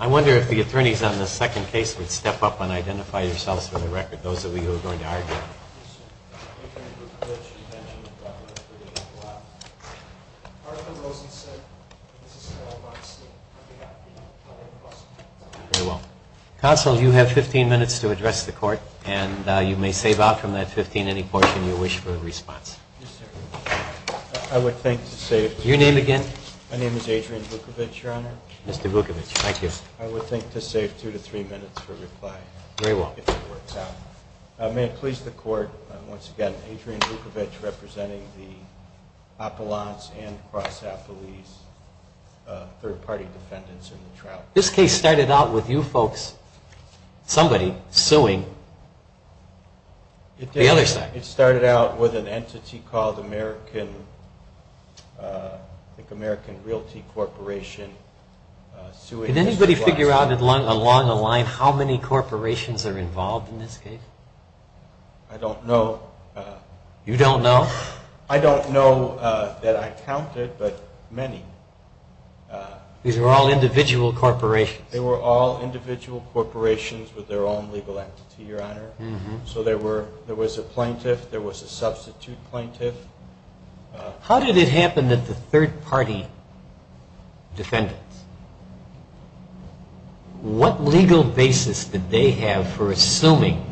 I wonder if the attorneys on the second case would step up and identify yourselves for the record, those of you who are going to argue. Counsel, you have 15 minutes to address the court and you may save out from that 15 any portion you wish for a response. Your name again? My name is Adrian Vukovich, Your Honor. Mr. Vukovich, thank you. I would think to save two to three minutes for reply. Very well. May it please the court, once again, Adrian Vukovich representing the Apollons and Crossapolis third party defendants in the trial. This case started out with you folks, somebody suing the other side. It started out with an entity called American Realty Corporation suing Mr. Blonstein. Can you figure out along the line how many corporations are involved in this case? I don't know. You don't know? I don't know that I counted, but many. These were all individual corporations? They were all individual corporations with their own legal entity, Your Honor. So there was a plaintiff, there was a substitute plaintiff. How did it happen that the third party defendants, what legal basis did they have for assuming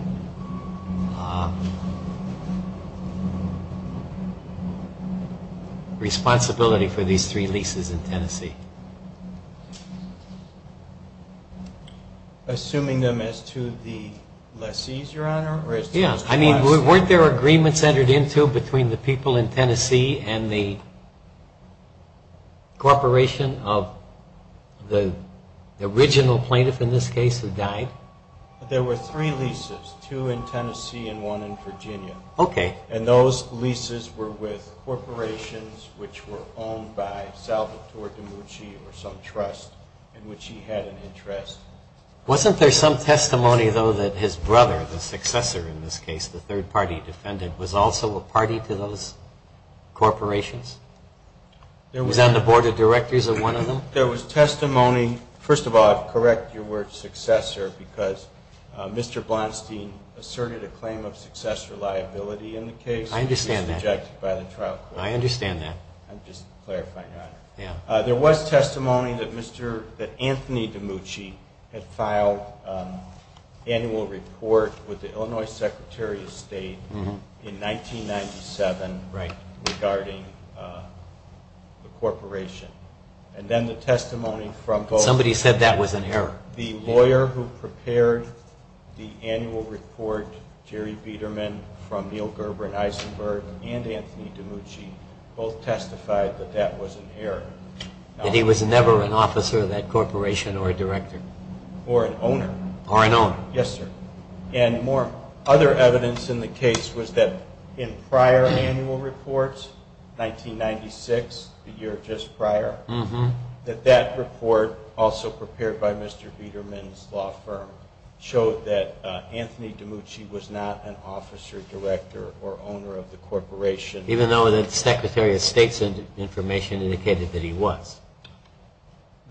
responsibility for these three leases in Tennessee? Assuming them as to the lessees, Your Honor? Weren't there agreements entered into between the people in Tennessee and the corporation of the original plaintiff in this case who died? There were three leases, two in Tennessee and one in Virginia. Okay. And those leases were with corporations which were owned by Salvatore DiMucci or some trust in which he had an interest. Wasn't there some testimony, though, that his brother, the successor in this case, the third party defendant, was also a party to those corporations? He was on the board of directors of one of them? There was testimony. First of all, I'll correct your word successor because Mr. Blonstein asserted a claim of successor liability in the case. I understand that. It was rejected by the trial court. I understand that. I'm just clarifying, Your Honor. Yeah. There was testimony that Anthony DiMucci had filed an annual report with the Illinois Secretary of State in 1997 regarding the corporation. And then the testimony from both… Somebody said that was inherent. The lawyer who prepared the annual report, Jerry Biederman from Neil Gerber and Eisenberg and Anthony DiMucci, both testified that that was inherent. That he was never an officer of that corporation or a director? Or an owner. Or an owner. Yes, sir. And more other evidence in the case was that in prior annual reports, 1996, the year just prior, that that report, also prepared by Mr. Biederman's law firm, showed that Anthony DiMucci was not an officer, director, or owner of the corporation. Even though the Secretary of State's information indicated that he was?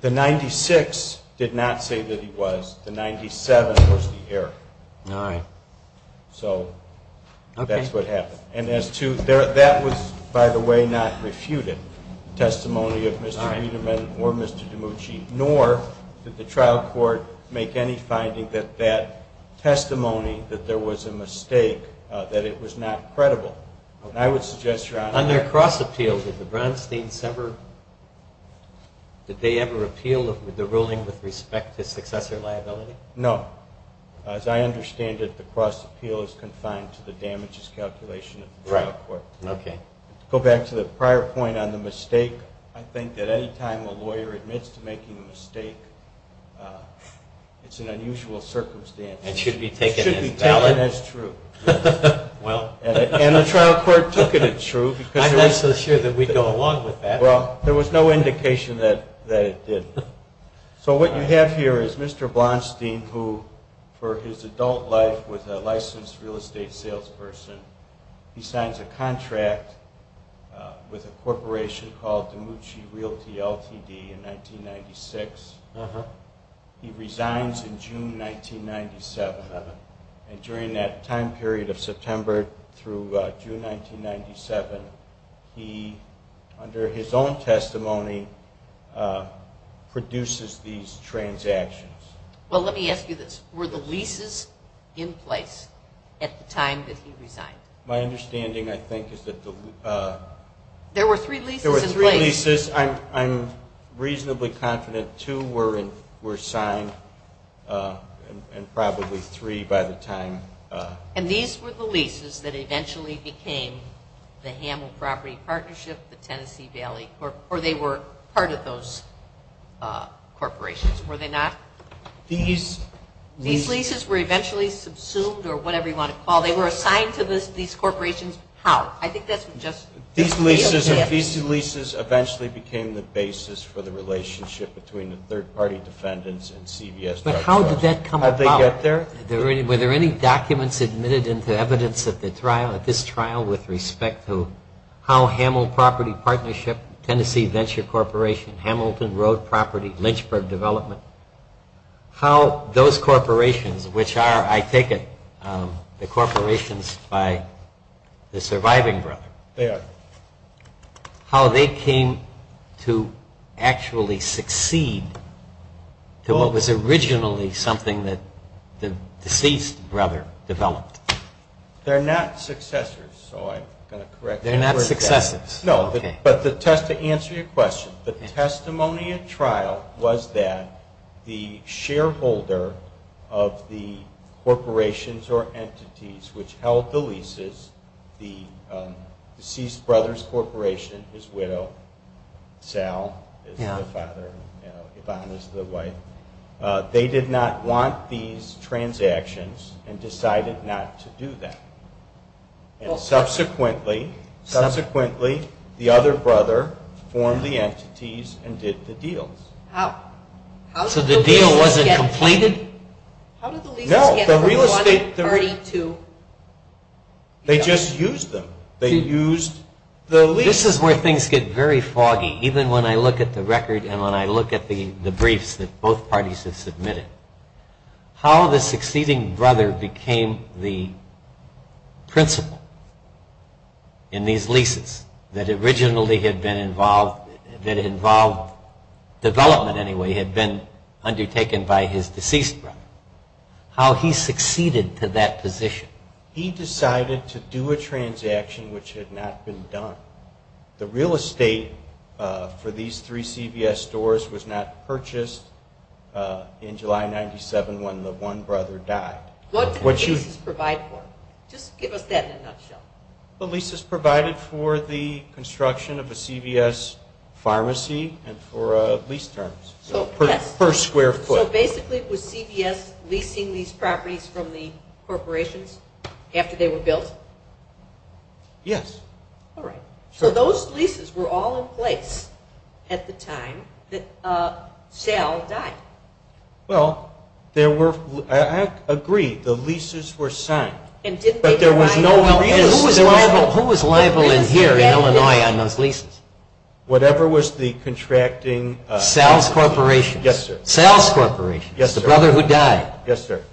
The 96 did not say that he was. The 97 was the error. All right. So that's what happened. And as to – that was, by the way, not refuted, the testimony of Mr. Biederman or Mr. DiMucci, nor did the trial court make any finding that that testimony, that there was a mistake, that it was not credible. And I would suggest, Your Honor… On their cross appeal, did the Bronstein's ever – did they ever appeal the ruling with respect to successor liability? No. As I understand it, the cross appeal is confined to the damages calculation of the trial court. Right. Okay. To go back to the prior point on the mistake, I think that any time a lawyer admits to making a mistake, it's an unusual circumstance. It should be taken as valid. It should be taken as true. And the trial court took it as true. I'm not so sure that we'd go along with that. Well, there was no indication that it did. So what you have here is Mr. Bronstein, who for his adult life was a licensed real estate salesperson. He signs a contract with a corporation called DiMucci Realty Ltd. in 1996. He resigns in June 1997. And during that time period of September through June 1997, he, under his own testimony, produces these transactions. Well, let me ask you this. Were the leases in place at the time that he resigned? My understanding, I think, is that the… There were three leases in place. There were three leases. I'm reasonably confident two were signed and probably three by the time… And these were the leases that eventually became the Hamill Property Partnership, the Tennessee Valley Corporation, or they were part of those corporations, were they not? These leases were eventually subsumed or whatever you want to call it. They were assigned to these corporations. How? These leases eventually became the basis for the relationship between the third-party defendants and CVS. But how did that come about? How did they get there? Were there any documents admitted into evidence at this trial with respect to how Hamill Property Partnership, Tennessee Venture Corporation, Hamilton Road Property, Lynchburg Development, how those corporations, which are, I take it, the corporations by the surviving brother. They are. How they came to actually succeed to what was originally something that the deceased brother developed. They're not successors, so I'm going to correct that. They're not successors. No, but to answer your question, the testimony at trial was that the shareholder of the corporations or entities which held the leases, the deceased brother's corporation, his widow, Sal is the father and Yvonne is the wife, they did not want these transactions and decided not to do that. And subsequently, subsequently, the other brother formed the entities and did the deals. How? So the deal wasn't completed? How did the leases get from one party to the other? They just used them. They used the leases. This is where things get very foggy, even when I look at the record and when I look at the briefs that both parties have submitted. How the succeeding brother became the principal in these leases that originally had been involved, that involved development anyway, had been undertaken by his deceased brother. How he succeeded to that position. He decided to do a transaction which had not been done. The real estate for these three CVS stores was not purchased in July 1997 when the one brother died. What did the leases provide for? Just give us that in a nutshell. The leases provided for the construction of a CVS pharmacy and for lease terms per square foot. So basically, was CVS leasing these properties from the corporations after they were built? Yes. All right. So those leases were all in place at the time that Sal died. Well, I agree. The leases were signed. But there was no... Who was liable in here in Illinois on those leases? Whatever was the contracting... Sal's Corporation. Yes, sir. Sal's Corporation. Yes, sir. The brother who died. Yes, sir.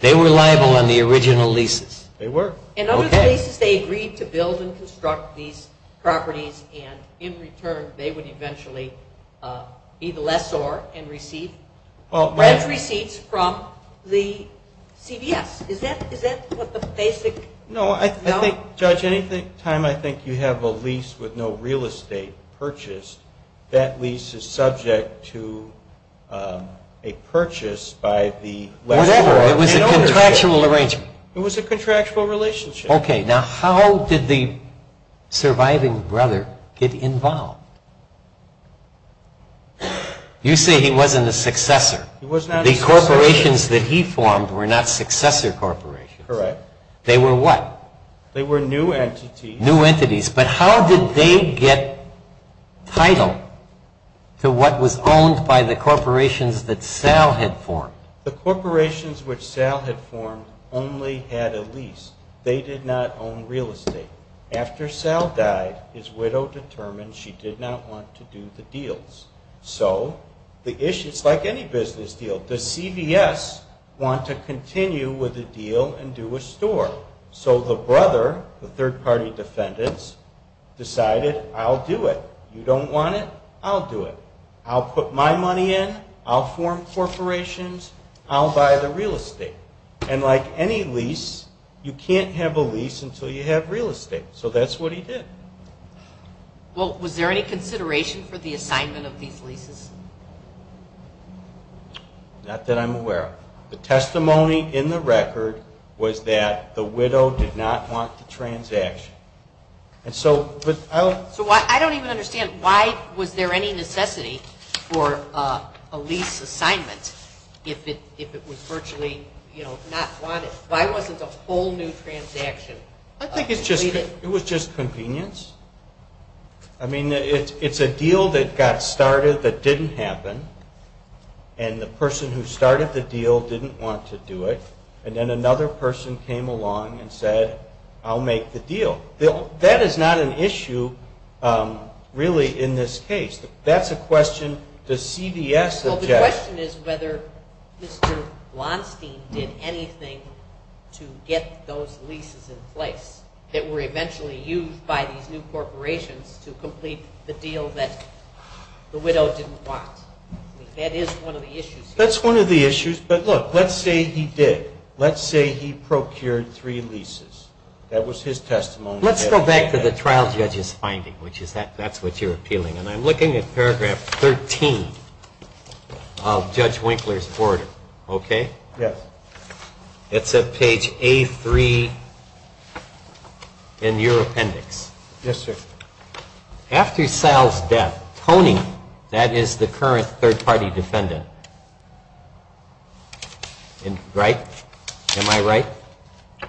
They were liable on the original leases. They were. And on those leases, they agreed to build and construct these properties, and in return, they would eventually be the lessor and receive rent receipts from the CVS. Is that what the basic... No, I think, Judge, any time I think you have a lease with no real estate purchased, that lease is subject to a purchase by the lessor. Whatever. It was a contractual arrangement. It was a contractual relationship. Okay. Now, how did the surviving brother get involved? You say he wasn't a successor. He was not a successor. The corporations that he formed were not successor corporations. Correct. They were what? They were new entities. New entities. But how did they get title to what was owned by the corporations that Sal had formed? The corporations which Sal had formed only had a lease. They did not own real estate. After Sal died, his widow determined she did not want to do the deals. So it's like any business deal. Does CVS want to continue with the deal and do a store? So the brother, the third-party defendants, decided, I'll do it. You don't want it? I'll do it. I'll put my money in. I'll form corporations. I'll buy the real estate. And like any lease, you can't have a lease until you have real estate. So that's what he did. Well, was there any consideration for the assignment of these leases? Not that I'm aware of. The testimony in the record was that the widow did not want the transaction. So I don't even understand. Why was there any necessity for a lease assignment if it was virtually not wanted? Why wasn't a whole new transaction completed? I think it was just convenience. I mean, it's a deal that got started that didn't happen, and the person who started the deal didn't want to do it, and then another person came along and said, I'll make the deal. That is not an issue, really, in this case. That's a question the CVS objected. Well, the question is whether Mr. Blonstein did anything to get those leases in place that were eventually used by these new corporations to complete the deal that the widow didn't want. I mean, that is one of the issues here. That's one of the issues. But, look, let's say he did. Let's say he procured three leases. That was his testimony. Let's go back to the trial judge's finding, which is that that's what you're appealing, and I'm looking at paragraph 13 of Judge Winkler's order. Okay? Yes. It's at page A3 in your appendix. Yes, sir. After Sal's death, Tony, that is the current third-party defendant, right? Am I right?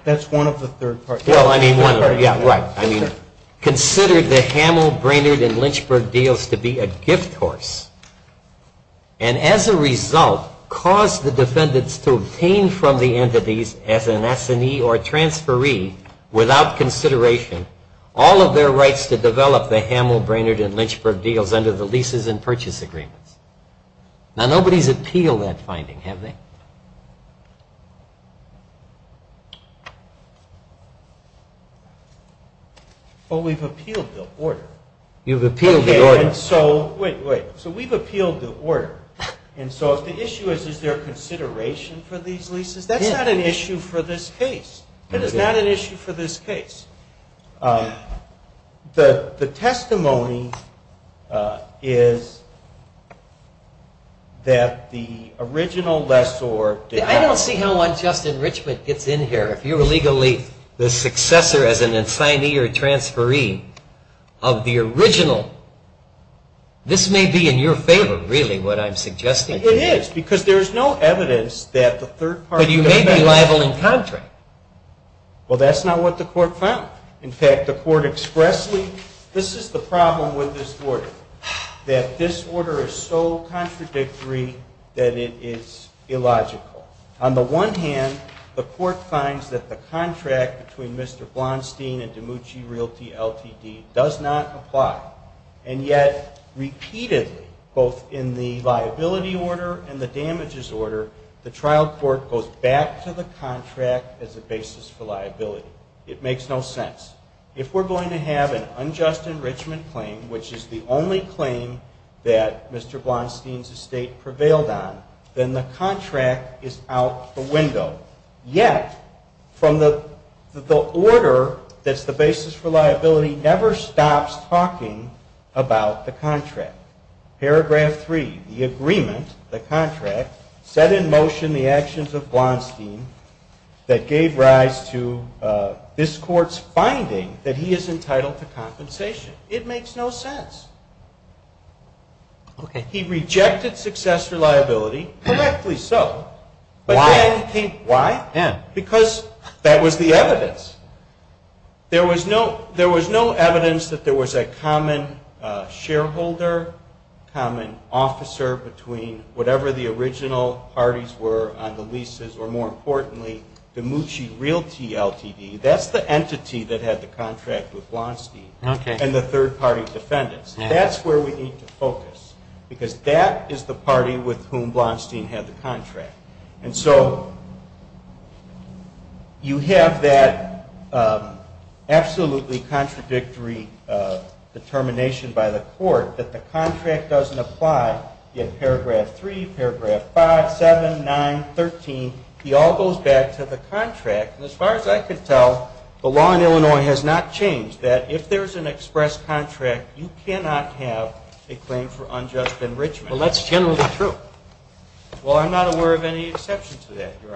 That's one of the third parties. Well, I mean, one of them. Yeah, right. I mean, considered the Hamill, Brainerd, and Lynchburg deals to be a gift horse and, as a result, caused the defendants to obtain from the entities as an assignee or transferee without consideration all of their rights to develop the Hamill, Brainerd, and Lynchburg deals under the leases and purchase agreements. Now, nobody's appealed that finding, have they? Well, we've appealed the order. You've appealed the order. Okay, and so, wait, wait. So we've appealed the order. And so if the issue is is there consideration for these leases, that's not an issue for this case. That is not an issue for this case. The testimony is that the original lessor did not. I don't see how unjust enrichment gets in here. If you're legally the successor as an assignee or transferee of the original, this may be in your favor, really, what I'm suggesting to you. It is, because there is no evidence that the third party. But you may be liable in contrary. Well, that's not what the court found. In fact, the court expressly, this is the problem with this order, that this order is so contradictory that it is illogical. On the one hand, the court finds that the contract between Mr. Blonstein and Demucci Realty Ltd. does not apply. And yet, repeatedly, both in the liability order and the damages order, the trial court goes back to the contract as a basis for liability. It makes no sense. If we're going to have an unjust enrichment claim, which is the only claim that Mr. Blonstein's estate prevailed on, then the contract is out the window. Yet, from the order that's the basis for liability never stops talking about the contract. Paragraph three, the agreement, the contract, set in motion the actions of Blonstein that gave rise to this court's finding that he is entitled to compensation. It makes no sense. He rejected success for liability, correctly so. Why? Because that was the evidence. There was no evidence that there was a common shareholder, common officer between whatever the original parties were on the leases, or more importantly, Demucci Realty Ltd. That's the entity that had the contract with Blonstein and the third-party defendants. That's where we need to focus because that is the party with whom Blonstein had the contract. And so you have that absolutely contradictory determination by the court that the contract doesn't apply in paragraph three, paragraph five, seven, nine, 13. He all goes back to the contract. And as far as I could tell, the law in Illinois has not changed, that if there's an express contract, you cannot have a claim for unjust enrichment. Well, that's generally true. Well, I'm not aware of any exception to that, Your Honor.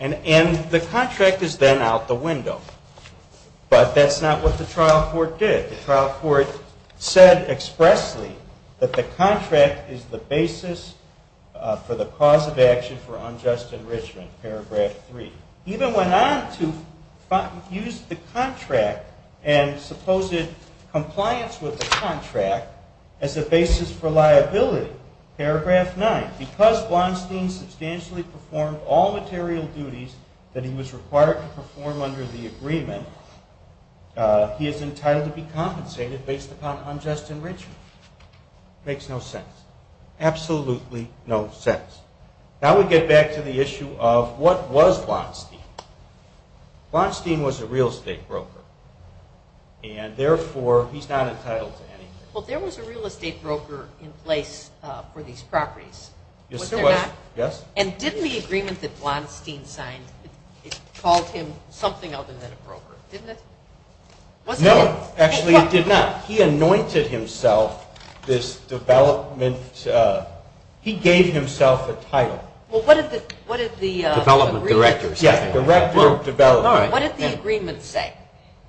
And the contract is then out the window. But that's not what the trial court did. The trial court said expressly that the contract is the basis for the cause of action for unjust enrichment, paragraph three. Even went on to use the contract and supposed compliance with the contract as a basis for liability, paragraph nine. Because Blonstein substantially performed all material duties that he was required to perform under the agreement, he is entitled to be compensated based upon unjust enrichment. Makes no sense. Absolutely no sense. Now we get back to the issue of what was Blonstein. Blonstein was a real estate broker, and therefore he's not entitled to anything. Well, there was a real estate broker in place for these properties, was there not? Yes. And didn't the agreement that Blonstein signed, it called him something other than a broker, didn't it? No, actually it did not. He anointed himself this development. He gave himself a title. Well, what did the agreement say? Development director. Yes, director of development. All right. What did the agreement say?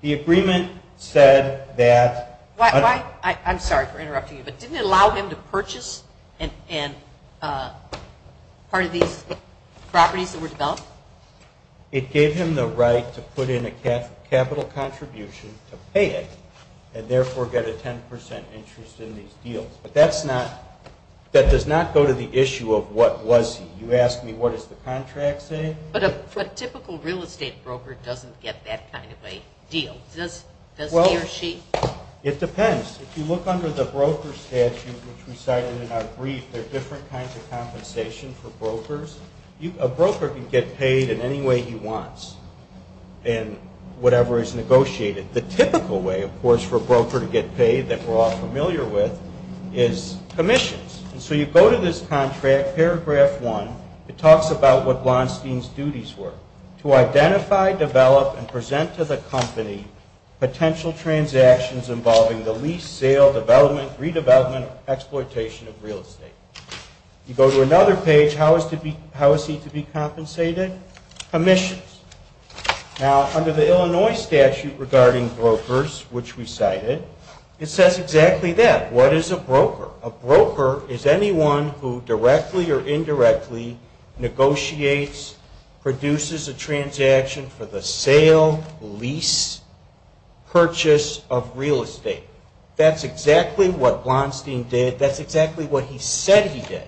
The agreement said that. I'm sorry for interrupting you, but didn't it allow him to purchase part of these properties that were developed? It gave him the right to put in a capital contribution to pay it and therefore get a 10% interest in these deals. But that does not go to the issue of what was he. You ask me what does the contract say? But a typical real estate broker doesn't get that kind of a deal. Does he or she? It depends. If you look under the broker statute, which we cited in our brief, there are different kinds of compensation for brokers. A broker can get paid in any way he wants in whatever is negotiated. The typical way, of course, for a broker to get paid that we're all familiar with is commissions. And so you go to this contract, paragraph one. It talks about what Blonstein's duties were. To identify, develop, and present to the company potential transactions involving the lease, sale, development, redevelopment, or exploitation of real estate. You go to another page. How is he to be compensated? Commissions. Now, under the Illinois statute regarding brokers, which we cited, it says exactly that. What is a broker? A broker is anyone who directly or indirectly negotiates, produces a transaction for the sale, lease, purchase of real estate. That's exactly what Blonstein did. That's exactly what he said he did.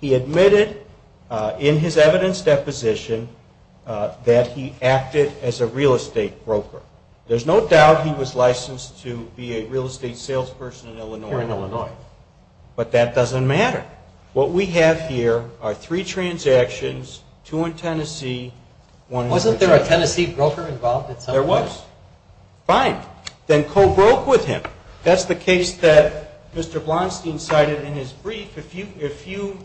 He admitted in his evidence deposition that he acted as a real estate broker. There's no doubt he was licensed to be a real estate salesperson in Illinois. But that doesn't matter. What we have here are three transactions, two in Tennessee, one in Virginia. Wasn't there a Tennessee broker involved at some point? There was. Fine. Then co-broke with him. That's the case that Mr. Blonstein cited in his brief. If you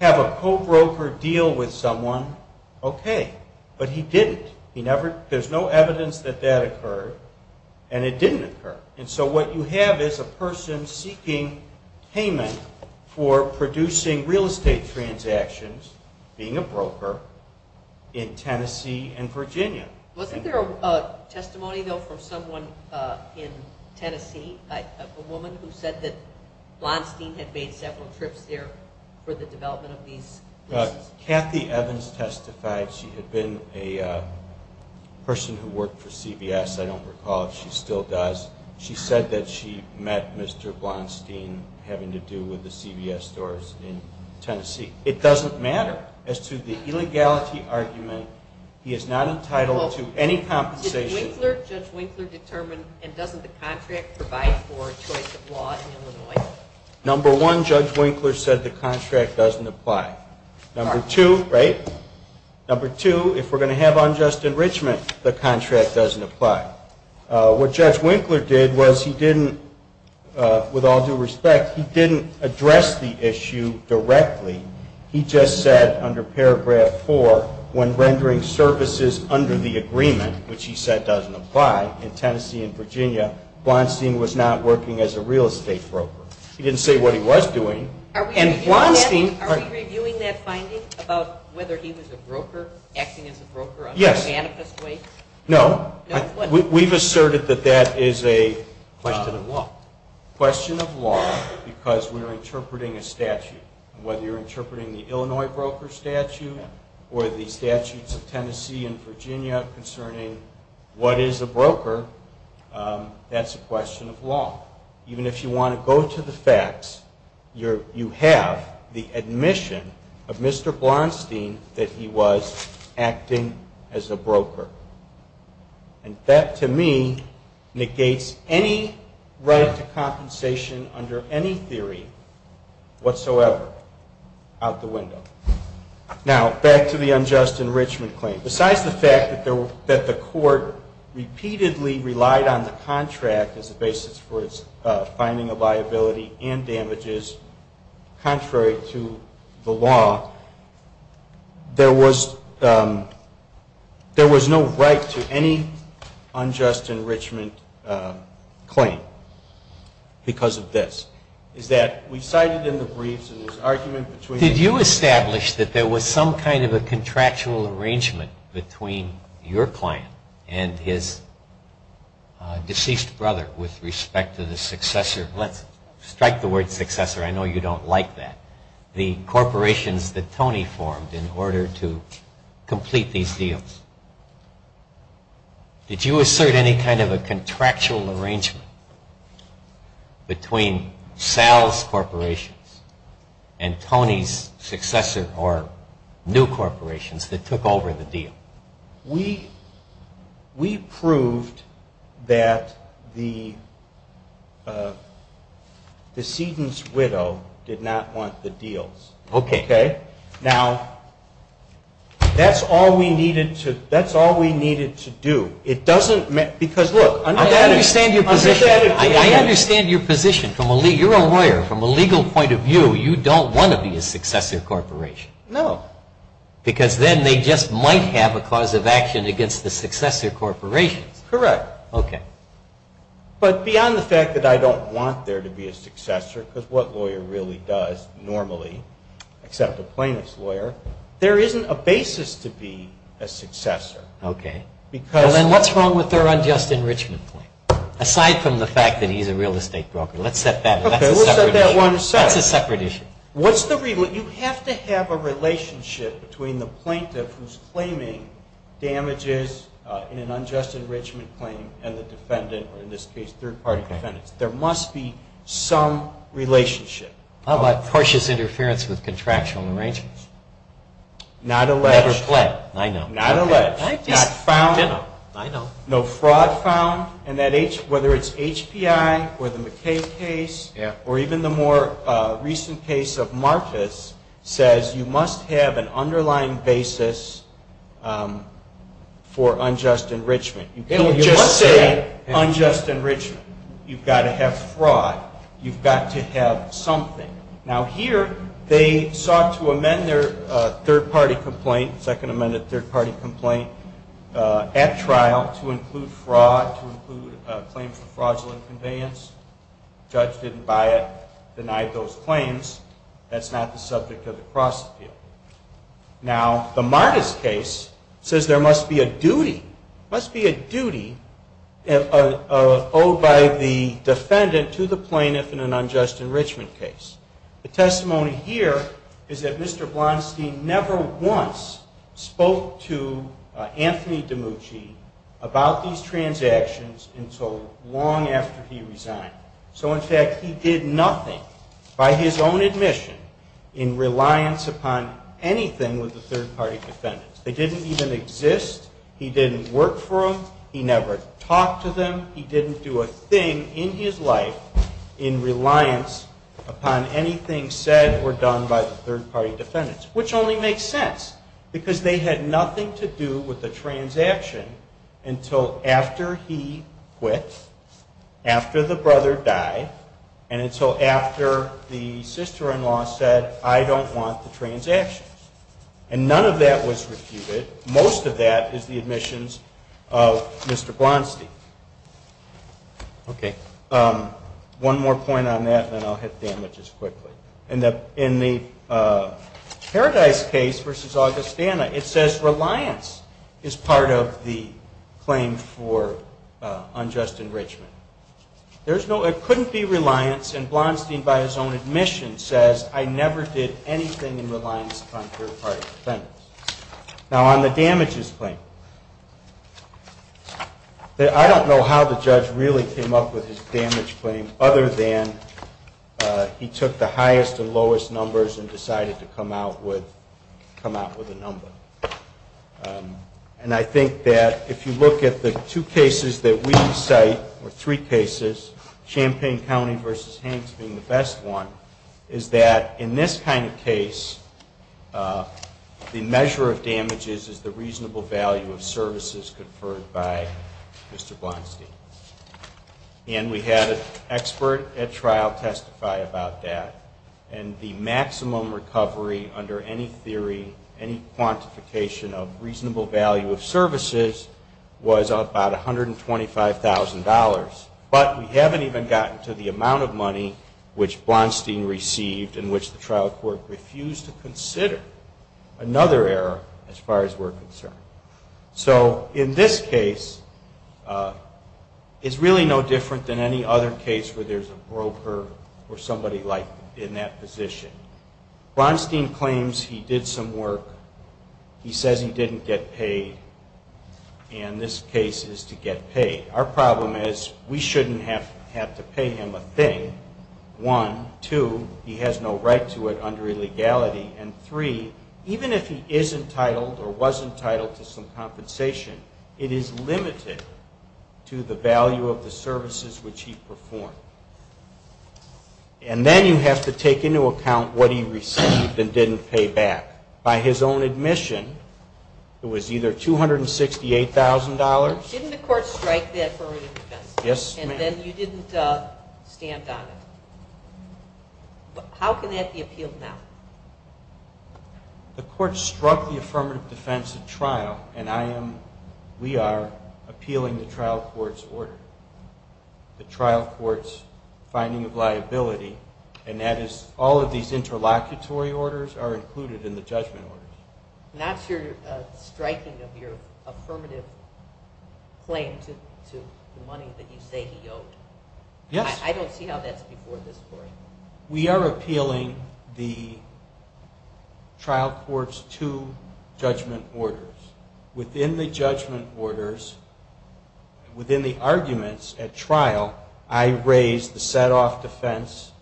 have a co-broker deal with someone, okay. But he didn't. There's no evidence that that occurred, and it didn't occur. And so what you have is a person seeking payment for producing real estate transactions, being a broker, in Tennessee and Virginia. Wasn't there a testimony, though, from someone in Tennessee, a woman who said that Blonstein had made several trips there for the development of these leases? Kathy Evans testified. She had been a person who worked for CVS. I don't recall if she still does. She said that she met Mr. Blonstein having to do with the CVS stores in Tennessee. It doesn't matter as to the illegality argument. He is not entitled to any compensation. Did Winkler, Judge Winkler, determine, and doesn't the contract provide for choice of law in Illinois? Number one, Judge Winkler said the contract doesn't apply. Number two, right? Number two, if we're going to have unjust enrichment, the contract doesn't apply. What Judge Winkler did was he didn't, with all due respect, he didn't address the issue directly. He just said under paragraph four, when rendering services under the agreement, which he said doesn't apply in Tennessee and Virginia, Blonstein was not working as a real estate broker. He didn't say what he was doing. And Blonstein Are we reviewing that finding about whether he was a broker, acting as a broker? Yes. No. We've asserted that that is a question of law. Because we're interpreting a statute. Whether you're interpreting the Illinois broker statute or the statutes of Tennessee and Virginia concerning what is a broker, that's a question of law. Even if you want to go to the facts, you have the admission of Mr. Blonstein that he was acting as a broker. And that to me negates any right to compensation under any theory whatsoever out the window. Now, back to the unjust enrichment claim. Besides the fact that the court repeatedly relied on the contract as a basis for its finding of liability and damages, contrary to the law, there was no right to any unjust enrichment claim because of this. Is that we cited in the briefs in this argument between Did you establish that there was some kind of a contractual arrangement between your client and his deceased brother with respect to the successor? Let's strike the word successor. I know you don't like that. The corporations that Tony formed in order to complete these deals. Did you assert any kind of a contractual arrangement between Sal's corporations and Tony's successor or new corporations that took over the deal? We proved that the decedent's widow did not want the deals. Okay. Now, that's all we needed to do. It doesn't, because look. I understand your position. I understand your position. You're a lawyer. From a legal point of view, you don't want to be a successor corporation. No. Because then they just might have a cause of action against the successor corporations. Correct. Okay. But beyond the fact that I don't want there to be a successor, because what lawyer really does normally, except a plaintiff's lawyer, there isn't a basis to be a successor. Okay. And then what's wrong with their unjust enrichment claim? Aside from the fact that he's a real estate broker. Let's set that one aside. That's a separate issue. You have to have a relationship between the plaintiff who's claiming damages in an unjust enrichment claim and the defendant, or in this case third-party defendants. There must be some relationship. How about tortious interference with contractual arrangements? Not alleged. Never pled. I know. Not alleged. Not found. I know. No fraud found. And whether it's HPI or the McKay case, or even the more recent case of Marcus, says you must have an underlying basis for unjust enrichment. You can't just say unjust enrichment. You've got to have fraud. You've got to have something. Now, here they sought to amend their third-party complaint, second-amended third-party complaint, at trial to include fraud, to include claims of fraudulent conveyance. The judge didn't buy it, denied those claims. That's not the subject of the cross-appeal. Now, the Marcus case says there must be a duty, must be a duty owed by the defendant to the plaintiff in an unjust enrichment case. The testimony here is that Mr. Blonstein never once spoke to Anthony DiMucci about these transactions until long after he resigned. So, in fact, he did nothing, by his own admission, in reliance upon anything with the third-party defendants. They didn't even exist. He didn't work for them. He never talked to them. He didn't do a thing in his life in reliance upon anything said or done by the third-party defendants, which only makes sense, because they had nothing to do with the transaction until after he quit, after the brother died, and until after the sister-in-law said, I don't want the transactions. And none of that was refuted. Most of that is the admissions of Mr. Blonstein. Okay. One more point on that, and then I'll hit damages quickly. In the Paradise case versus Augustana, it says reliance is part of the claim for unjust enrichment. It couldn't be reliance, and Blonstein, by his own admission, says, I never did anything in reliance upon third-party defendants. Now, on the damages claim, I don't know how the judge really came up with his damage claim, other than he took the highest and lowest numbers and decided to come out with a number. And I think that if you look at the two cases that we cite, or three cases, Champaign County versus Hanks being the best one, is that in this kind of case, the measure of damages is the reasonable value of services conferred by Mr. Blonstein. And we had an expert at trial testify about that. And the maximum recovery under any theory, any quantification of reasonable value of services, was about $125,000. But we haven't even gotten to the amount of money which Blonstein received and which the trial court refused to consider another error as far as we're concerned. So in this case, it's really no different than any other case where there's a broker or somebody like in that position. Blonstein claims he did some work. He says he didn't get paid. And this case is to get paid. Our problem is we shouldn't have to pay him a thing, one. Two, he has no right to it under illegality. And three, even if he is entitled or was entitled to some compensation, it is limited to the value of the services which he performed. And then you have to take into account what he received and didn't pay back. By his own admission, it was either $268,000. Didn't the court strike that for re-defense? Yes, ma'am. And then you didn't stand on it. How can that be appealed now? The court struck the affirmative defense at trial, and we are appealing the trial court's order, the trial court's finding of liability, and that is all of these interlocutory orders are included in the judgment orders. And that's your striking of your affirmative claim to the money that you say he owed. Yes. I don't see how that's before this court. We are appealing the trial court's two judgment orders. Within the judgment orders, within the arguments at trial, I raise the set-off defense,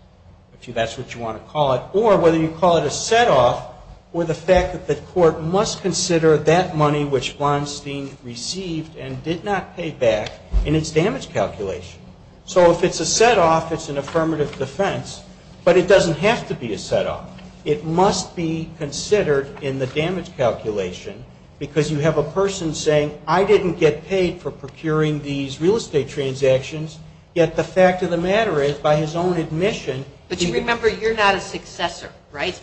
if that's what you want to call it, or whether you call it a set-off or the fact that the court must consider that money which Blonstein received and did not pay back in its damage calculation. So if it's a set-off, it's an affirmative defense. But it doesn't have to be a set-off. It must be considered in the damage calculation because you have a person saying, I didn't get paid for procuring these real estate transactions, yet the fact of the matter is by his own admission. But you remember you're not a successor, right?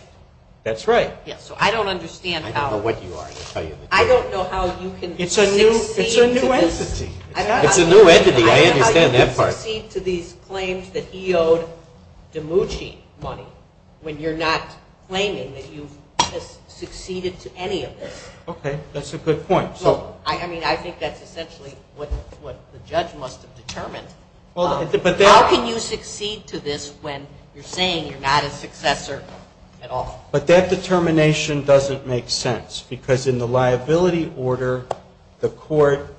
That's right. So I don't understand how. I don't know what you are. I don't know how you can succeed. It's a new entity. I understand that part. I don't know how you can succeed to these claims that he owed DiMucci money when you're not claiming that you've succeeded to any of this. Okay. That's a good point. I mean, I think that's essentially what the judge must have determined. How can you succeed to this when you're saying you're not a successor at all? But that determination doesn't make sense because in the liability order, the court,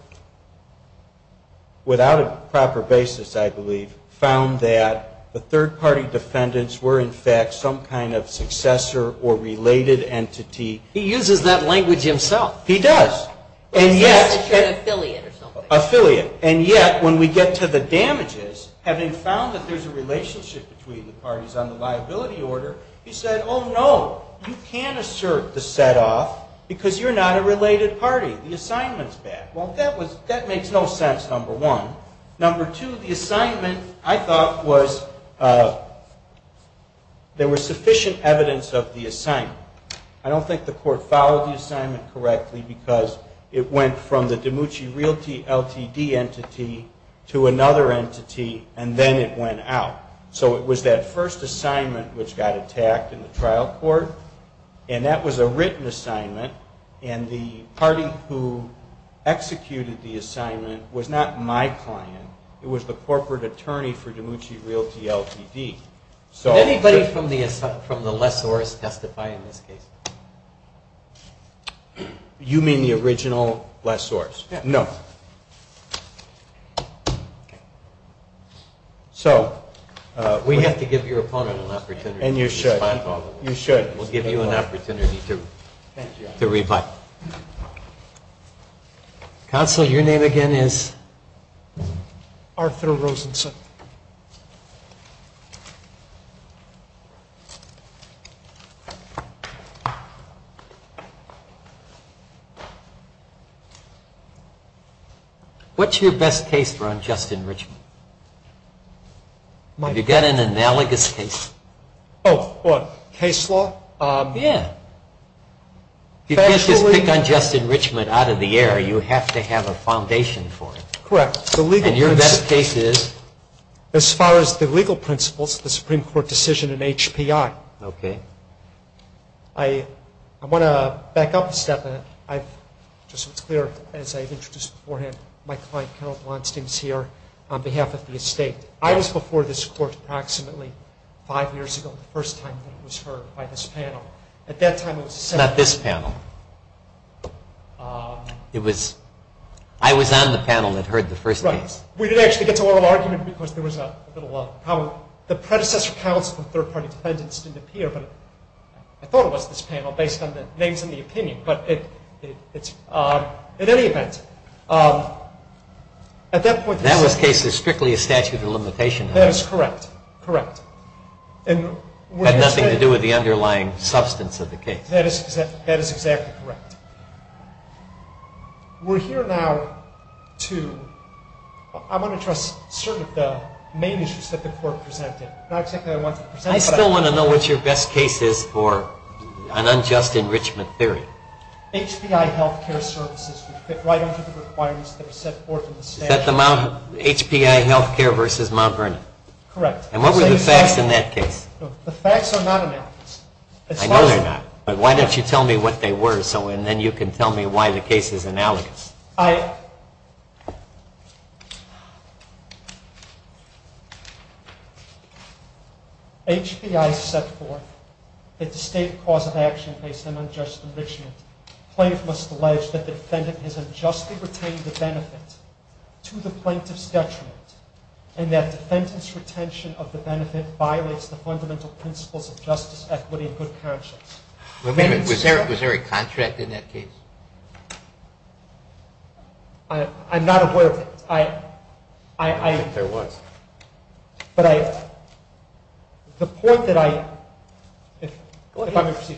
without a proper basis, I believe, found that the third-party defendants were, in fact, some kind of successor or related entity. He uses that language himself. He does. And yet when we get to the damages, having found that there's a relationship between the parties on the liability order, he said, oh, no, you can't assert the set-off because you're not a related party. The assignment's bad. Well, that makes no sense, number one. Number two, the assignment, I thought, was there was sufficient evidence of the assignment. I don't think the court followed the assignment correctly because it went from the DiMucci realty LTD entity to another entity, and then it went out. So it was that first assignment which got attacked in the trial court, and that was a written assignment, and the party who executed the assignment was not my client. It was the corporate attorney for DiMucci Realty LTD. Did anybody from the lessorist testify in this case? You mean the original lessorist? No. We have to give your opponent an opportunity to respond. You should. We'll give you an opportunity to reply. Counsel, your name again is? Arthur Rosenson. What's your best case for unjust enrichment? Have you got an analogous case? Oh, what, case law? Yeah. You can't just pick unjust enrichment out of the air. You have to have a foundation for it. Correct. And your best case is? As far as the legal principles, the Supreme Court decision in HPI. Okay. I want to back up a step. Just so it's clear, as I've introduced beforehand, my client, Carol Blonstein, is here on behalf of the estate. I was before this court approximately five years ago, the first time that it was heard by this panel. It's not this panel. I was on the panel that heard the first case. Right. We didn't actually get to oral argument because there was a little problem. The predecessor counsel and third-party defendants didn't appear, but I thought it was this panel based on the names and the opinion. But in any event, at that point in time. That case is strictly a statute of limitation. That is correct. Correct. Had nothing to do with the underlying substance of the case. That is exactly correct. We're here now to – I want to address certain of the main issues that the court presented. Not exactly what I wanted to present. I still want to know what your best case is for an unjust enrichment theory. Is that the HPI healthcare versus Mount Vernon? Correct. And what were the facts in that case? The facts are not analogous. I know they're not, but why don't you tell me what they were so then you can tell me why the case is analogous. HPI set forth that the state cause of action based on unjust enrichment plaintiff must allege that the defendant has unjustly retained the benefit to the plaintiff's detriment and that defendant's retention of the benefit violates the fundamental principles of justice, equity, and good conscience. Was there a contract in that case? I'm not aware of it. I think there was. But the point that I – if I may proceed.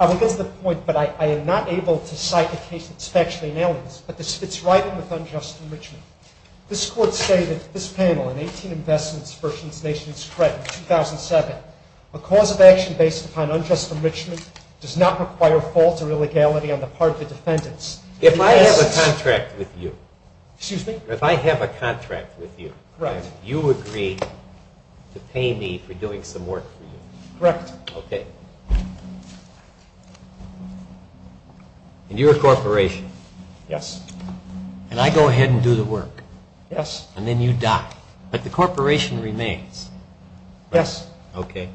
I will get to the point, but I am not able to cite the case that's factually analogous, but it's right with unjust enrichment. This court stated in this panel in 18 Investments versus Nation's Credit, 2007, a cause of action based upon unjust enrichment does not require fault or illegality on the part of the defendants. If I have a contract with you. Excuse me? If I have a contract with you and you agree to pay me for doing some work for you. Correct. Okay. And you're a corporation. Yes. And I go ahead and do the work. Yes. And then you die. But the corporation remains. Yes. Okay.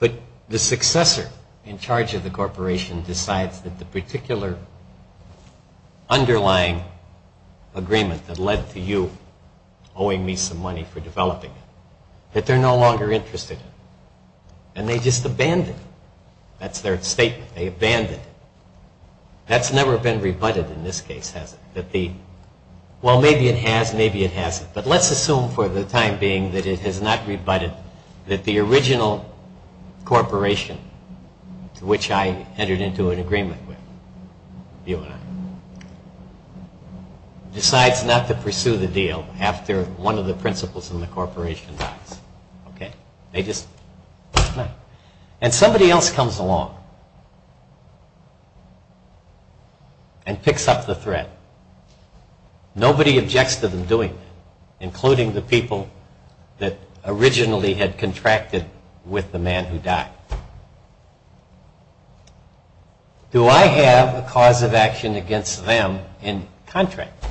But the successor in charge of the corporation decides that the particular underlying agreement that led to you owing me some money for developing it, that they're no longer interested. And they just abandoned it. That's their statement. They abandoned it. That's never been rebutted in this case, has it? That the – well, maybe it has. Maybe it hasn't. But let's assume for the time being that it has not rebutted, that the original corporation to which I entered into an agreement with you and I decides not to pursue the deal after one of the principals in the corporation dies. Okay? They just left. And somebody else comes along and picks up the threat. Nobody objects to them doing it, including the people that originally had contracted with the man who died. Do I have a cause of action against them in contract?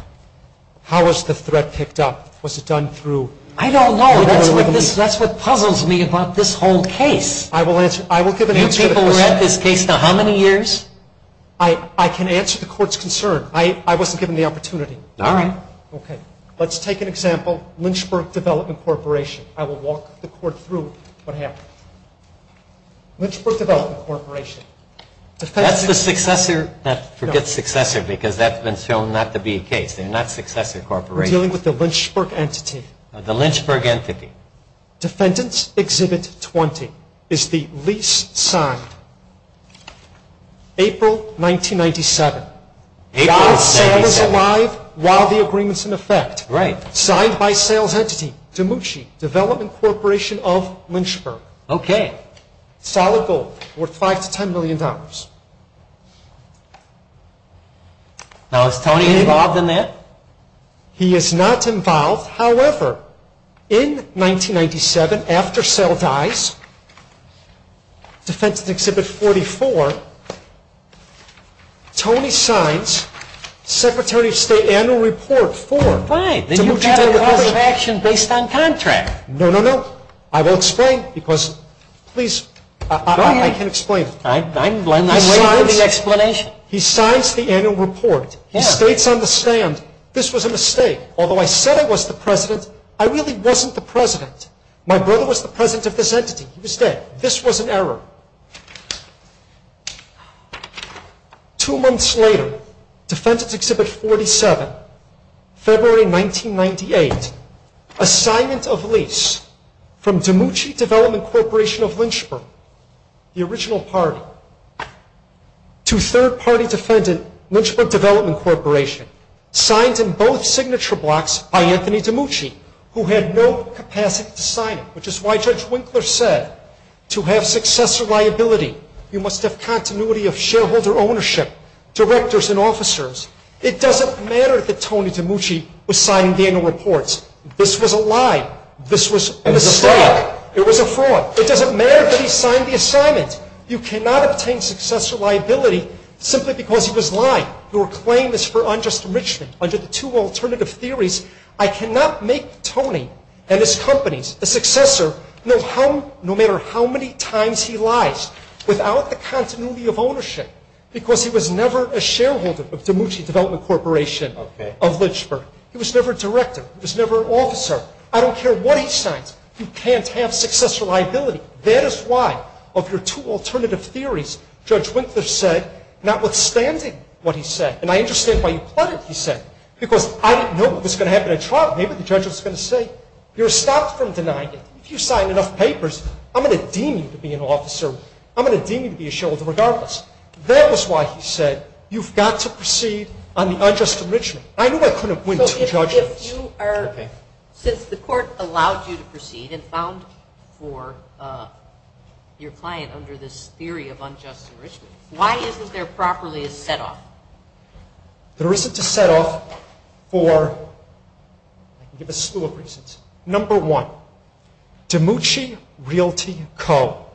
How was the threat picked up? Was it done through – I don't know. That's what puzzles me about this whole case. I will give an answer to the question. You people read this case to how many years? I can answer the court's concern. I wasn't given the opportunity. All right. Okay. Let's take an example, Lynchburg Development Corporation. I will walk the court through what happened. Lynchburg Development Corporation. That's the successor. Forget successor because that's been shown not to be the case. They're not successor corporations. We're dealing with the Lynchburg entity. The Lynchburg entity. Defendant's Exhibit 20 is the lease signed April 1997. April 1997. Sam is alive while the agreement's in effect. Right. Signed by sales entity, Demucci, Development Corporation of Lynchburg. Okay. Solid gold, worth $5 to $10 million. Now, is Tony involved in that? He is not involved. However, in 1997, after Sam dies, Defendant's Exhibit 44, Tony signs Secretary of State Annual Report 4. Fine. Then you've got a call of action based on contract. No, no, no. I will explain because please. Go ahead. I can explain. I'm willing to hear the explanation. He signs the annual report. He states on the stand, this was a mistake. Although I said I was the president, I really wasn't the president. My brother was the president of this entity. He was dead. This was an error. Two months later, Defendant's Exhibit 47, February 1998. Assignment of lease from Demucci Development Corporation of Lynchburg, the original party, to third-party defendant, Lynchburg Development Corporation. Signed in both signature blocks by Anthony Demucci, who had no capacity to sign it, which is why Judge Winkler said to have successor liability, you must have continuity of shareholder ownership, directors and officers. It doesn't matter that Tony Demucci was signing the annual reports. This was a lie. This was a mistake. It was a fraud. It doesn't matter that he signed the assignment. You cannot obtain successor liability simply because he was lying. Your claim is for unjust enrichment under the two alternative theories. I cannot make Tony and his companies, the successor, no matter how many times he lies without the continuity of ownership because he was never a shareholder of Demucci Development Corporation of Lynchburg. He was never a director. He was never an officer. I don't care what he signs. You can't have successor liability. That is why of your two alternative theories, Judge Winkler said, notwithstanding what he said, and I understand why you plotted, he said, because I didn't know what was going to happen at trial. Maybe the judge was going to say, you're stopped from denying it. If you sign enough papers, I'm going to deem you to be an officer. I'm going to deem you to be a shareholder regardless. That was why he said, you've got to proceed on the unjust enrichment. I knew I couldn't win two judgments. Okay. Since the court allowed you to proceed and found for your client under this theory of unjust enrichment, why isn't there properly a set-off? There isn't a set-off for a slew of reasons. Number one, Demucci Realty Co.,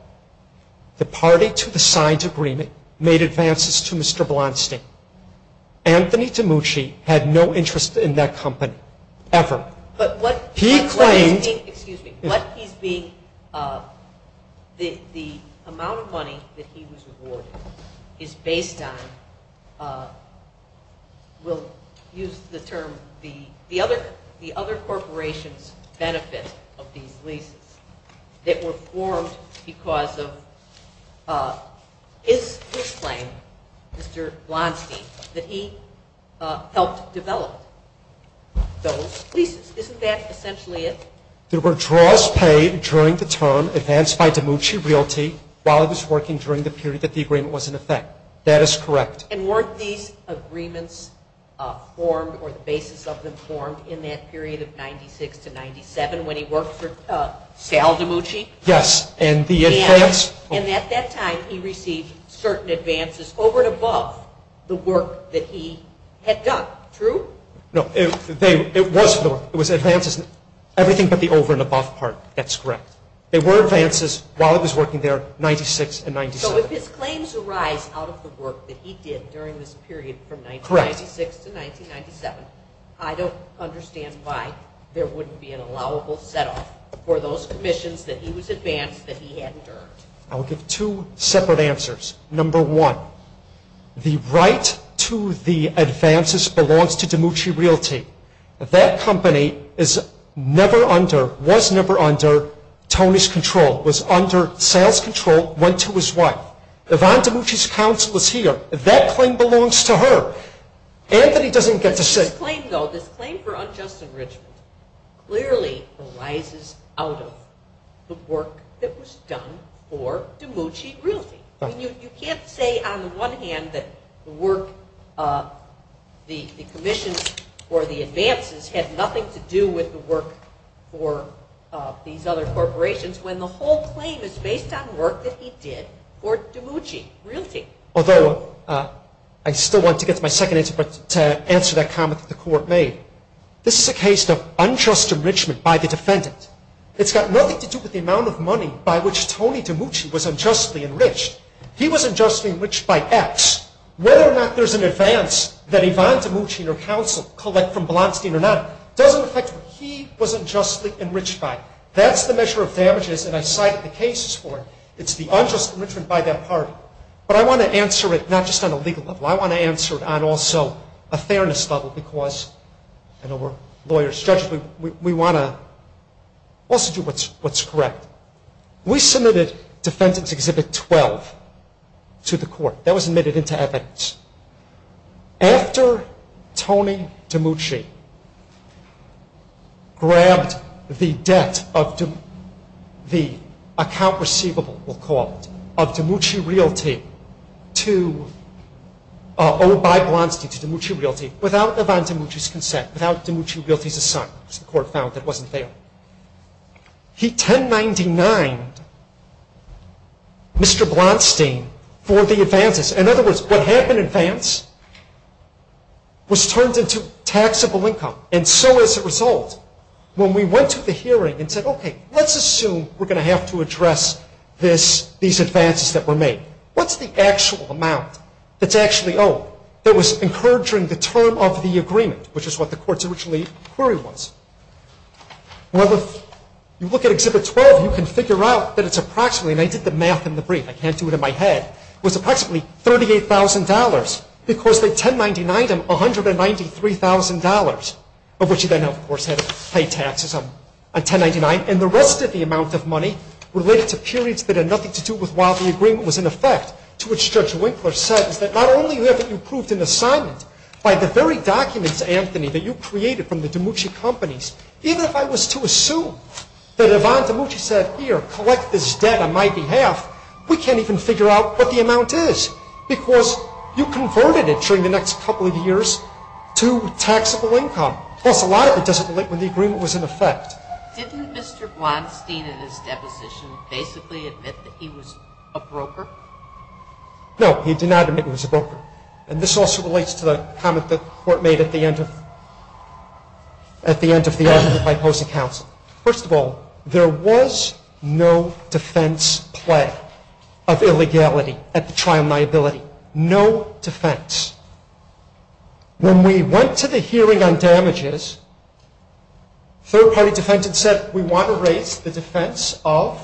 the party to the signed agreement, made advances to Mr. Blonstein. Anthony Demucci had no interest in that company ever. He claimed the amount of money that he was awarded is based on, we'll use the term, the other corporation's benefit of these leases that were formed because of his claim, Mr. Blonstein, that he helped develop those leases. Isn't that essentially it? There were draws paid during the term advanced by Demucci Realty while it was working during the period that the agreement was in effect. That is correct. And weren't these agreements formed or the basis of them formed in that period of 1996 to 1997 when he worked for Sal Demucci? Yes. And at that time he received certain advances over and above the work that he had done, true? No. It was advances, everything but the over and above part. That's correct. There were advances while it was working there, 1996 and 1997. So if his claims arise out of the work that he did during this period from 1996 to 1997, I don't understand why there wouldn't be an allowable set-off for those commissions that he was advanced that he hadn't earned. I'll give two separate answers. Number one, the right to the advances belongs to Demucci Realty. That company is never under, was never under Tony's control, was under sales control, went to his wife. Yvonne Demucci's counsel is here. That claim belongs to her. Anthony doesn't get to sit. This claim, though, this claim for unjust enrichment, clearly arises out of the work that was done for Demucci Realty. You can't say on the one hand that the work, the commissions or the advances had nothing to do with the work for these other corporations when the whole claim is based on work that he did for Demucci Realty. Although, I still want to get to my second answer, but to answer that comment that the court made. This is a case of unjust enrichment by the defendant. It's got nothing to do with the amount of money by which Tony Demucci was unjustly enriched. He was unjustly enriched by X. Whether or not there's an advance that Yvonne Demucci and her counsel collect from Blonstein or not doesn't affect what he was unjustly enriched by. That's the measure of damages, and I cited the cases for it. It's the unjust enrichment by that party. But I want to answer it not just on a legal level. I want to answer it on also a fairness level because, you know, we're lawyers, judges, we want to also do what's correct. We submitted Defendant's Exhibit 12 to the court. That was admitted into evidence. After Tony Demucci grabbed the debt of the account receivable, we'll call it, of Demucci Realty, owed by Blonstein to Demucci Realty, without Yvonne Demucci's consent, without Demucci Realty's assignment, which the court found that wasn't there. He 1099'd Mr. Blonstein for the advances. In other words, what happened in advance was turned into taxable income, and so as a result, when we went to the hearing and said, okay, let's assume we're going to have to address these advances that were made. What's the actual amount that's actually owed that was encouraging the term of the agreement, which is what the court's original query was? Well, if you look at Exhibit 12, you can figure out that it's approximately, and I did the math in the brief. I can't do it in my head. It was approximately $38,000 because they 1099'd him $193,000, of which he then, of course, had to pay taxes on 1099, and the rest of the amount of money related to periods that had nothing to do with while the agreement was in effect, to which Judge Winkler said, is that not only have you proved an assignment by the very documents, Anthony, that you created from the Demucci companies, even if I was to assume that Yvonne Demucci said, here, collect this debt on my behalf, we can't even figure out what the amount is because you converted it during the next couple of years to taxable income. Plus, a lot of it doesn't relate when the agreement was in effect. Didn't Mr. Blonstein, in his deposition, basically admit that he was a broker? No, he did not admit he was a broker, and this also relates to the comment that the court made at the end of the argument by opposing counsel. First of all, there was no defense play of illegality at the trial liability. No defense. When we went to the hearing on damages, third-party defense had said, we want to raise the defense of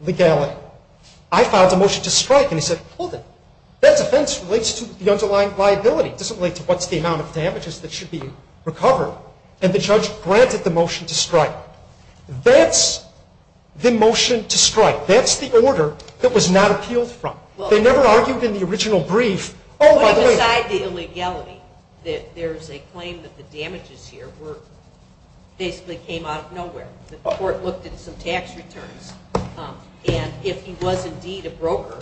legality. I filed a motion to strike, and he said, hold it. That defense relates to the underlying liability. It doesn't relate to what's the amount of damages that should be recovered, and the judge granted the motion to strike. That's the motion to strike. That's the order that was not appealed from. They never argued in the original brief. Oh, by the way. Put aside the illegality, that there's a claim that the damages here basically came out of nowhere. The court looked at some tax returns, and if he was indeed a broker,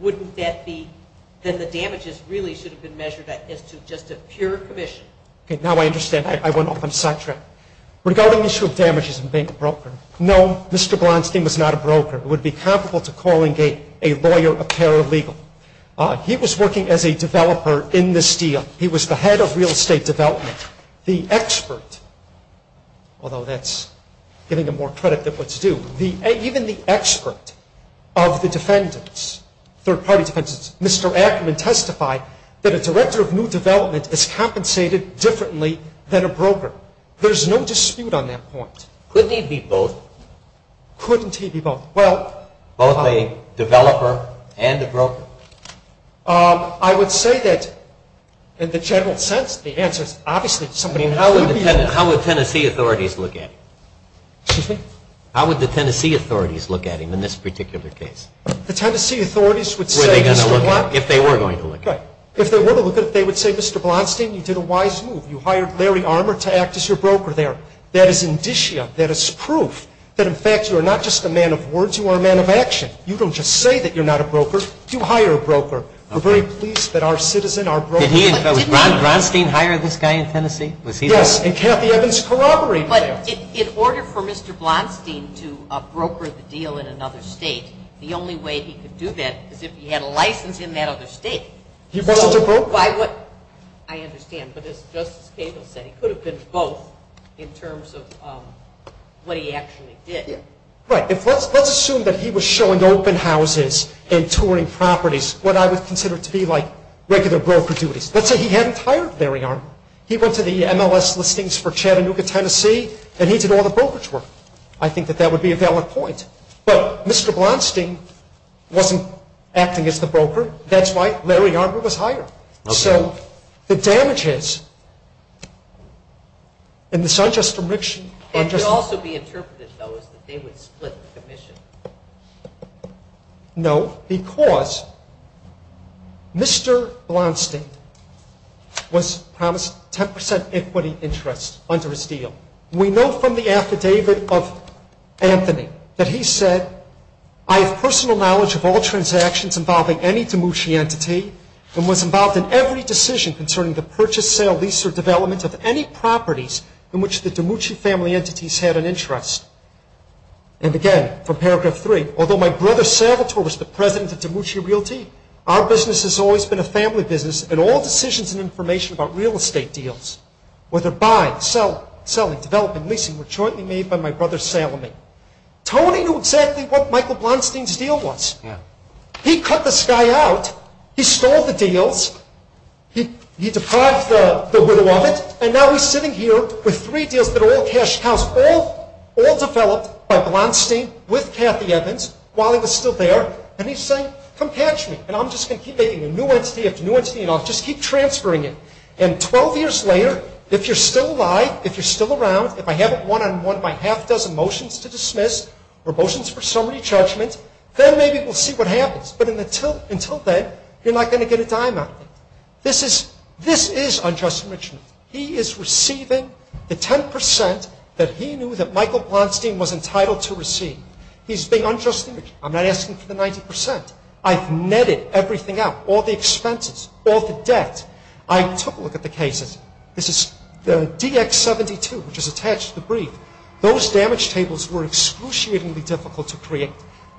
wouldn't that be then the damages really should have been measured as to just a pure commission. Okay, now I understand. I went off on a side track. Regarding the issue of damages and being a broker, no, Mr. Blonstein was not a broker. He would be comparable to calling a lawyer a paralegal. He was working as a developer in this deal. He was the head of real estate development. The expert, although that's giving him more credit than what's due, even the expert of the defendants, third-party defendants, Mr. Ackerman testified that a director of new development is compensated differently than a broker. There's no dispute on that point. Couldn't he be both? Couldn't he be both? Both a developer and a broker? I would say that in the general sense the answer is obviously somebody would be a broker. How would Tennessee authorities look at him? Excuse me? How would the Tennessee authorities look at him in this particular case? The Tennessee authorities would say Mr. Blonstein. If they were going to look at him. If they were going to look at him, they would say, Mr. Blonstein, you did a wise move. You hired Larry Armour to act as your broker there. That is indicia. That is proof that, in fact, you are not just a man of words. You are a man of action. You don't just say that you're not a broker. You hire a broker. We're very pleased that our citizen, our broker. Did he, did Ron Blonstein hire this guy in Tennessee? Yes, and Kathy Evans corroborated that. But in order for Mr. Blonstein to broker the deal in another state, the only way he could do that is if he had a license in that other state. He wasn't a broker. I understand, but as Justice Cable said, he could have been both in terms of what he actually did. Right. Let's assume that he was showing open houses and touring properties, what I would consider to be like regular broker duties. Let's say he hadn't hired Larry Armour. He went to the MLS listings for Chattanooga, Tennessee, and he did all the brokerage work. I think that that would be a valid point. But Mr. Blonstein wasn't acting as the broker. That's why Larry Armour was hired. Okay. So the damage is, and this is not just a friction. It could also be interpreted, though, as that they would split the commission. No, because Mr. Blonstein was promised 10% equity interest under his deal. We know from the affidavit of Anthony that he said, I have personal knowledge of all transactions involving any DeMucci entity and was involved in every decision concerning the purchase, sale, lease, or development of any properties in which the DeMucci family entities had an interest. And, again, from Paragraph 3, although my brother Salvatore was the president of DeMucci Realty, our business has always been a family business, and all decisions and information about real estate deals, whether buying, selling, developing, leasing, were jointly made by my brother Salome. Tony knew exactly what Michael Blonstein's deal was. Yeah. He cut this guy out. He stole the deals. He deprived the widow of it, and now he's sitting here with three deals that all cashed out, all developed by Blonstein with Kathy Evans while he was still there, and he's saying, come catch me, and I'm just going to keep making a new entity after new entity, and I'll just keep transferring it. And 12 years later, if you're still alive, if you're still around, if I have it one-on-one by half a dozen motions to dismiss or motions for summary judgment, then maybe we'll see what happens. But until then, you're not going to get a dime out of it. This is unjust enrichment. He is receiving the 10% that he knew that Michael Blonstein was entitled to receive. He's being unjustly enriched. I'm not asking for the 90%. I've netted everything out, all the expenses, all the debt. I took a look at the cases. This is DX72, which is attached to the brief. Those damage tables were excruciatingly difficult to create.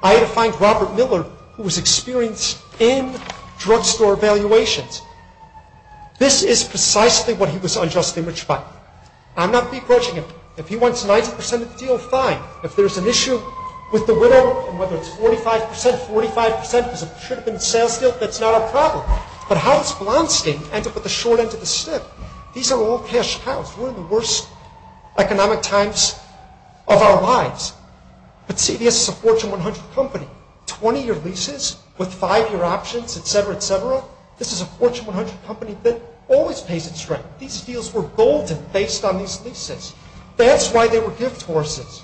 I had to find Robert Miller, who was experienced in drugstore valuations. This is precisely what he was unjustly enriched by. I'm not begrudging him. If he wants 90% of the deal, fine. If there's an issue with the widow and whether it's 45%, 45% because it should have been a sales deal, that's not a problem. But how does Blonstein end up with the short end of the stick? These are all cash cows. We're in the worst economic times of our lives. But CBS is a Fortune 100 company. Twenty-year leases with five-year options, et cetera, et cetera. This is a Fortune 100 company that always pays its rent. These deals were golden based on these leases. That's why they were gift horses.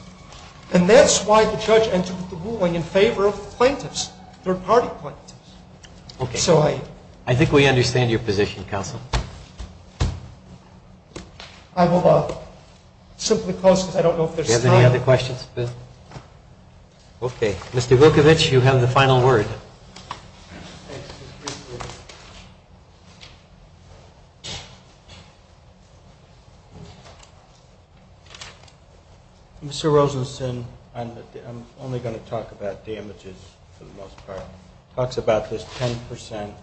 And that's why the judge entered the ruling in favor of plaintiffs, third-party plaintiffs. Okay. I think we understand your position, counsel. I will simply close because I don't know if there's time. Do you have any other questions? Okay. Mr. Vukovich, you have the final word. Mr. Rosenstein, I'm only going to talk about damages for the most part. Talks about this 10%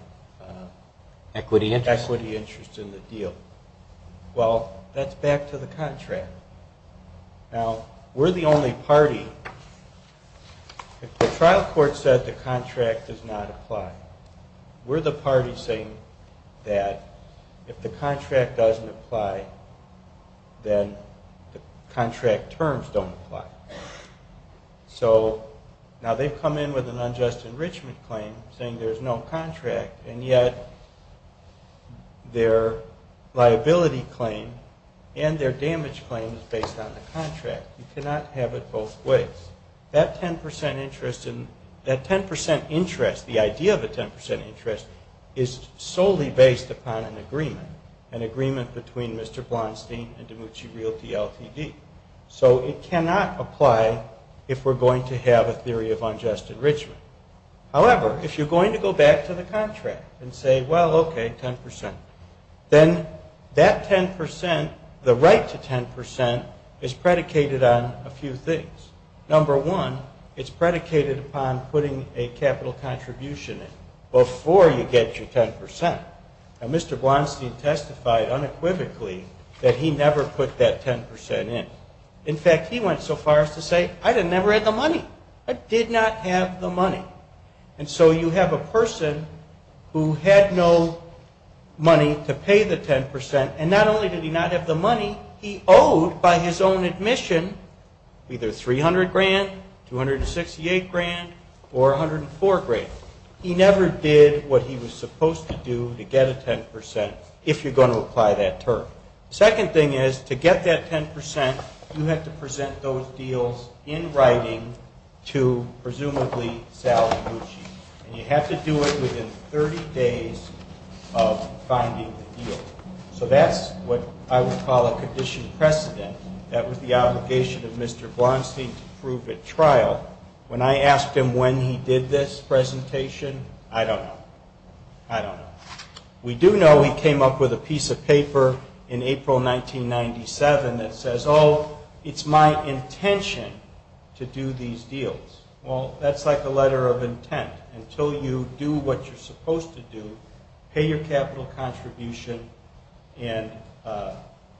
equity interest in the deal. Well, that's back to the contract. Now, we're the only party, if the trial court said the contract does not apply, we're the party saying that if the contract doesn't apply, then the contract terms don't apply. So now they've come in with an unjust enrichment claim saying there's no contract, and yet their liability claim and their damage claim is based on the contract. You cannot have it both ways. That 10% interest, the idea of a 10% interest is solely based upon an agreement, an agreement between Mr. Blonstein and Demucci Realty Ltd. So it cannot apply if we're going to have a theory of unjust enrichment. However, if you're going to go back to the contract and say, well, okay, 10%, then that 10%, the right to 10%, is predicated on a few things. Number one, it's predicated upon putting a capital contribution in before you get your 10%. Now, Mr. Blonstein testified unequivocally that he never put that 10% in. In fact, he went so far as to say, I never had the money. I did not have the money. And so you have a person who had no money to pay the 10%, and not only did he not have the money, he owed by his own admission either $300,000, $268,000, or $104,000. He never did what he was supposed to do to get a 10% if you're going to apply that term. The second thing is to get that 10%, you have to present those deals in writing to presumably Sal Demucci. And you have to do it within 30 days of finding the deal. So that's what I would call a condition precedent. That was the obligation of Mr. Blonstein to prove at trial. When I asked him when he did this presentation, I don't know. I don't know. We do know he came up with a piece of paper in April 1997 that says, oh, it's my intention to do these deals. Well, that's like a letter of intent. Until you do what you're supposed to do, pay your capital contribution, and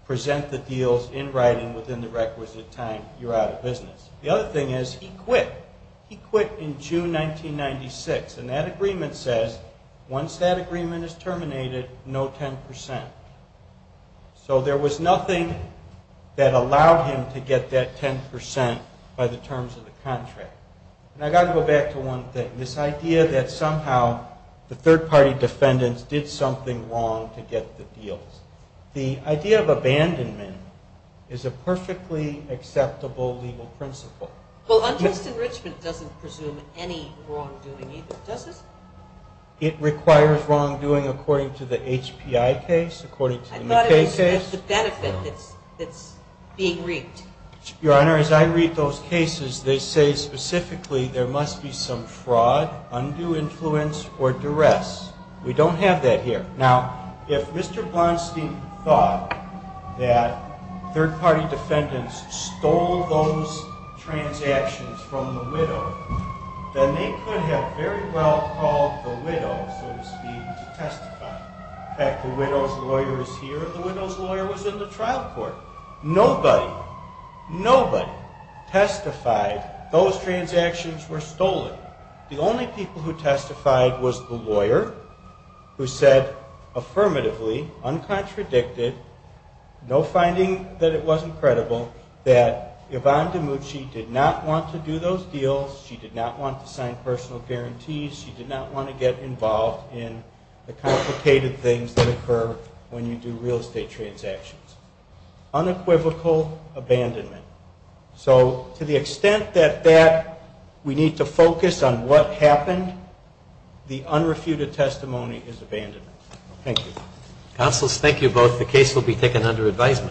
present the deals in writing within the requisite time, you're out of business. The other thing is he quit. He quit in June 1996, and that agreement says once that agreement is terminated, no 10%. So there was nothing that allowed him to get that 10% by the terms of the contract. And I've got to go back to one thing, this idea that somehow the third-party defendants did something wrong to get the deals. The idea of abandonment is a perfectly acceptable legal principle. Well, unjust enrichment doesn't presume any wrongdoing either, does it? It requires wrongdoing according to the HPI case, according to the McKay case. I thought it was the benefit that's being reaped. Your Honor, as I read those cases, they say specifically there must be some fraud, undue influence, or duress. We don't have that here. Now, if Mr. Blonstein thought that third-party defendants stole those transactions from the widow, then they could have very well called the widow, so to speak, to testify. In fact, the widow's lawyer is here. The widow's lawyer was in the trial court. Nobody, nobody testified those transactions were stolen. The only people who testified was the lawyer who said affirmatively, uncontradicted, no finding that it wasn't credible, that Yvonne DiMucci did not want to do those deals, she did not want to sign personal guarantees, she did not want to get involved in the complicated things that occur when you do real estate transactions. Unequivocal abandonment. So to the extent that that we need to focus on what happened, the unrefuted testimony is abandoned. Thank you. Counselors, thank you both. The case will be taken under advisement.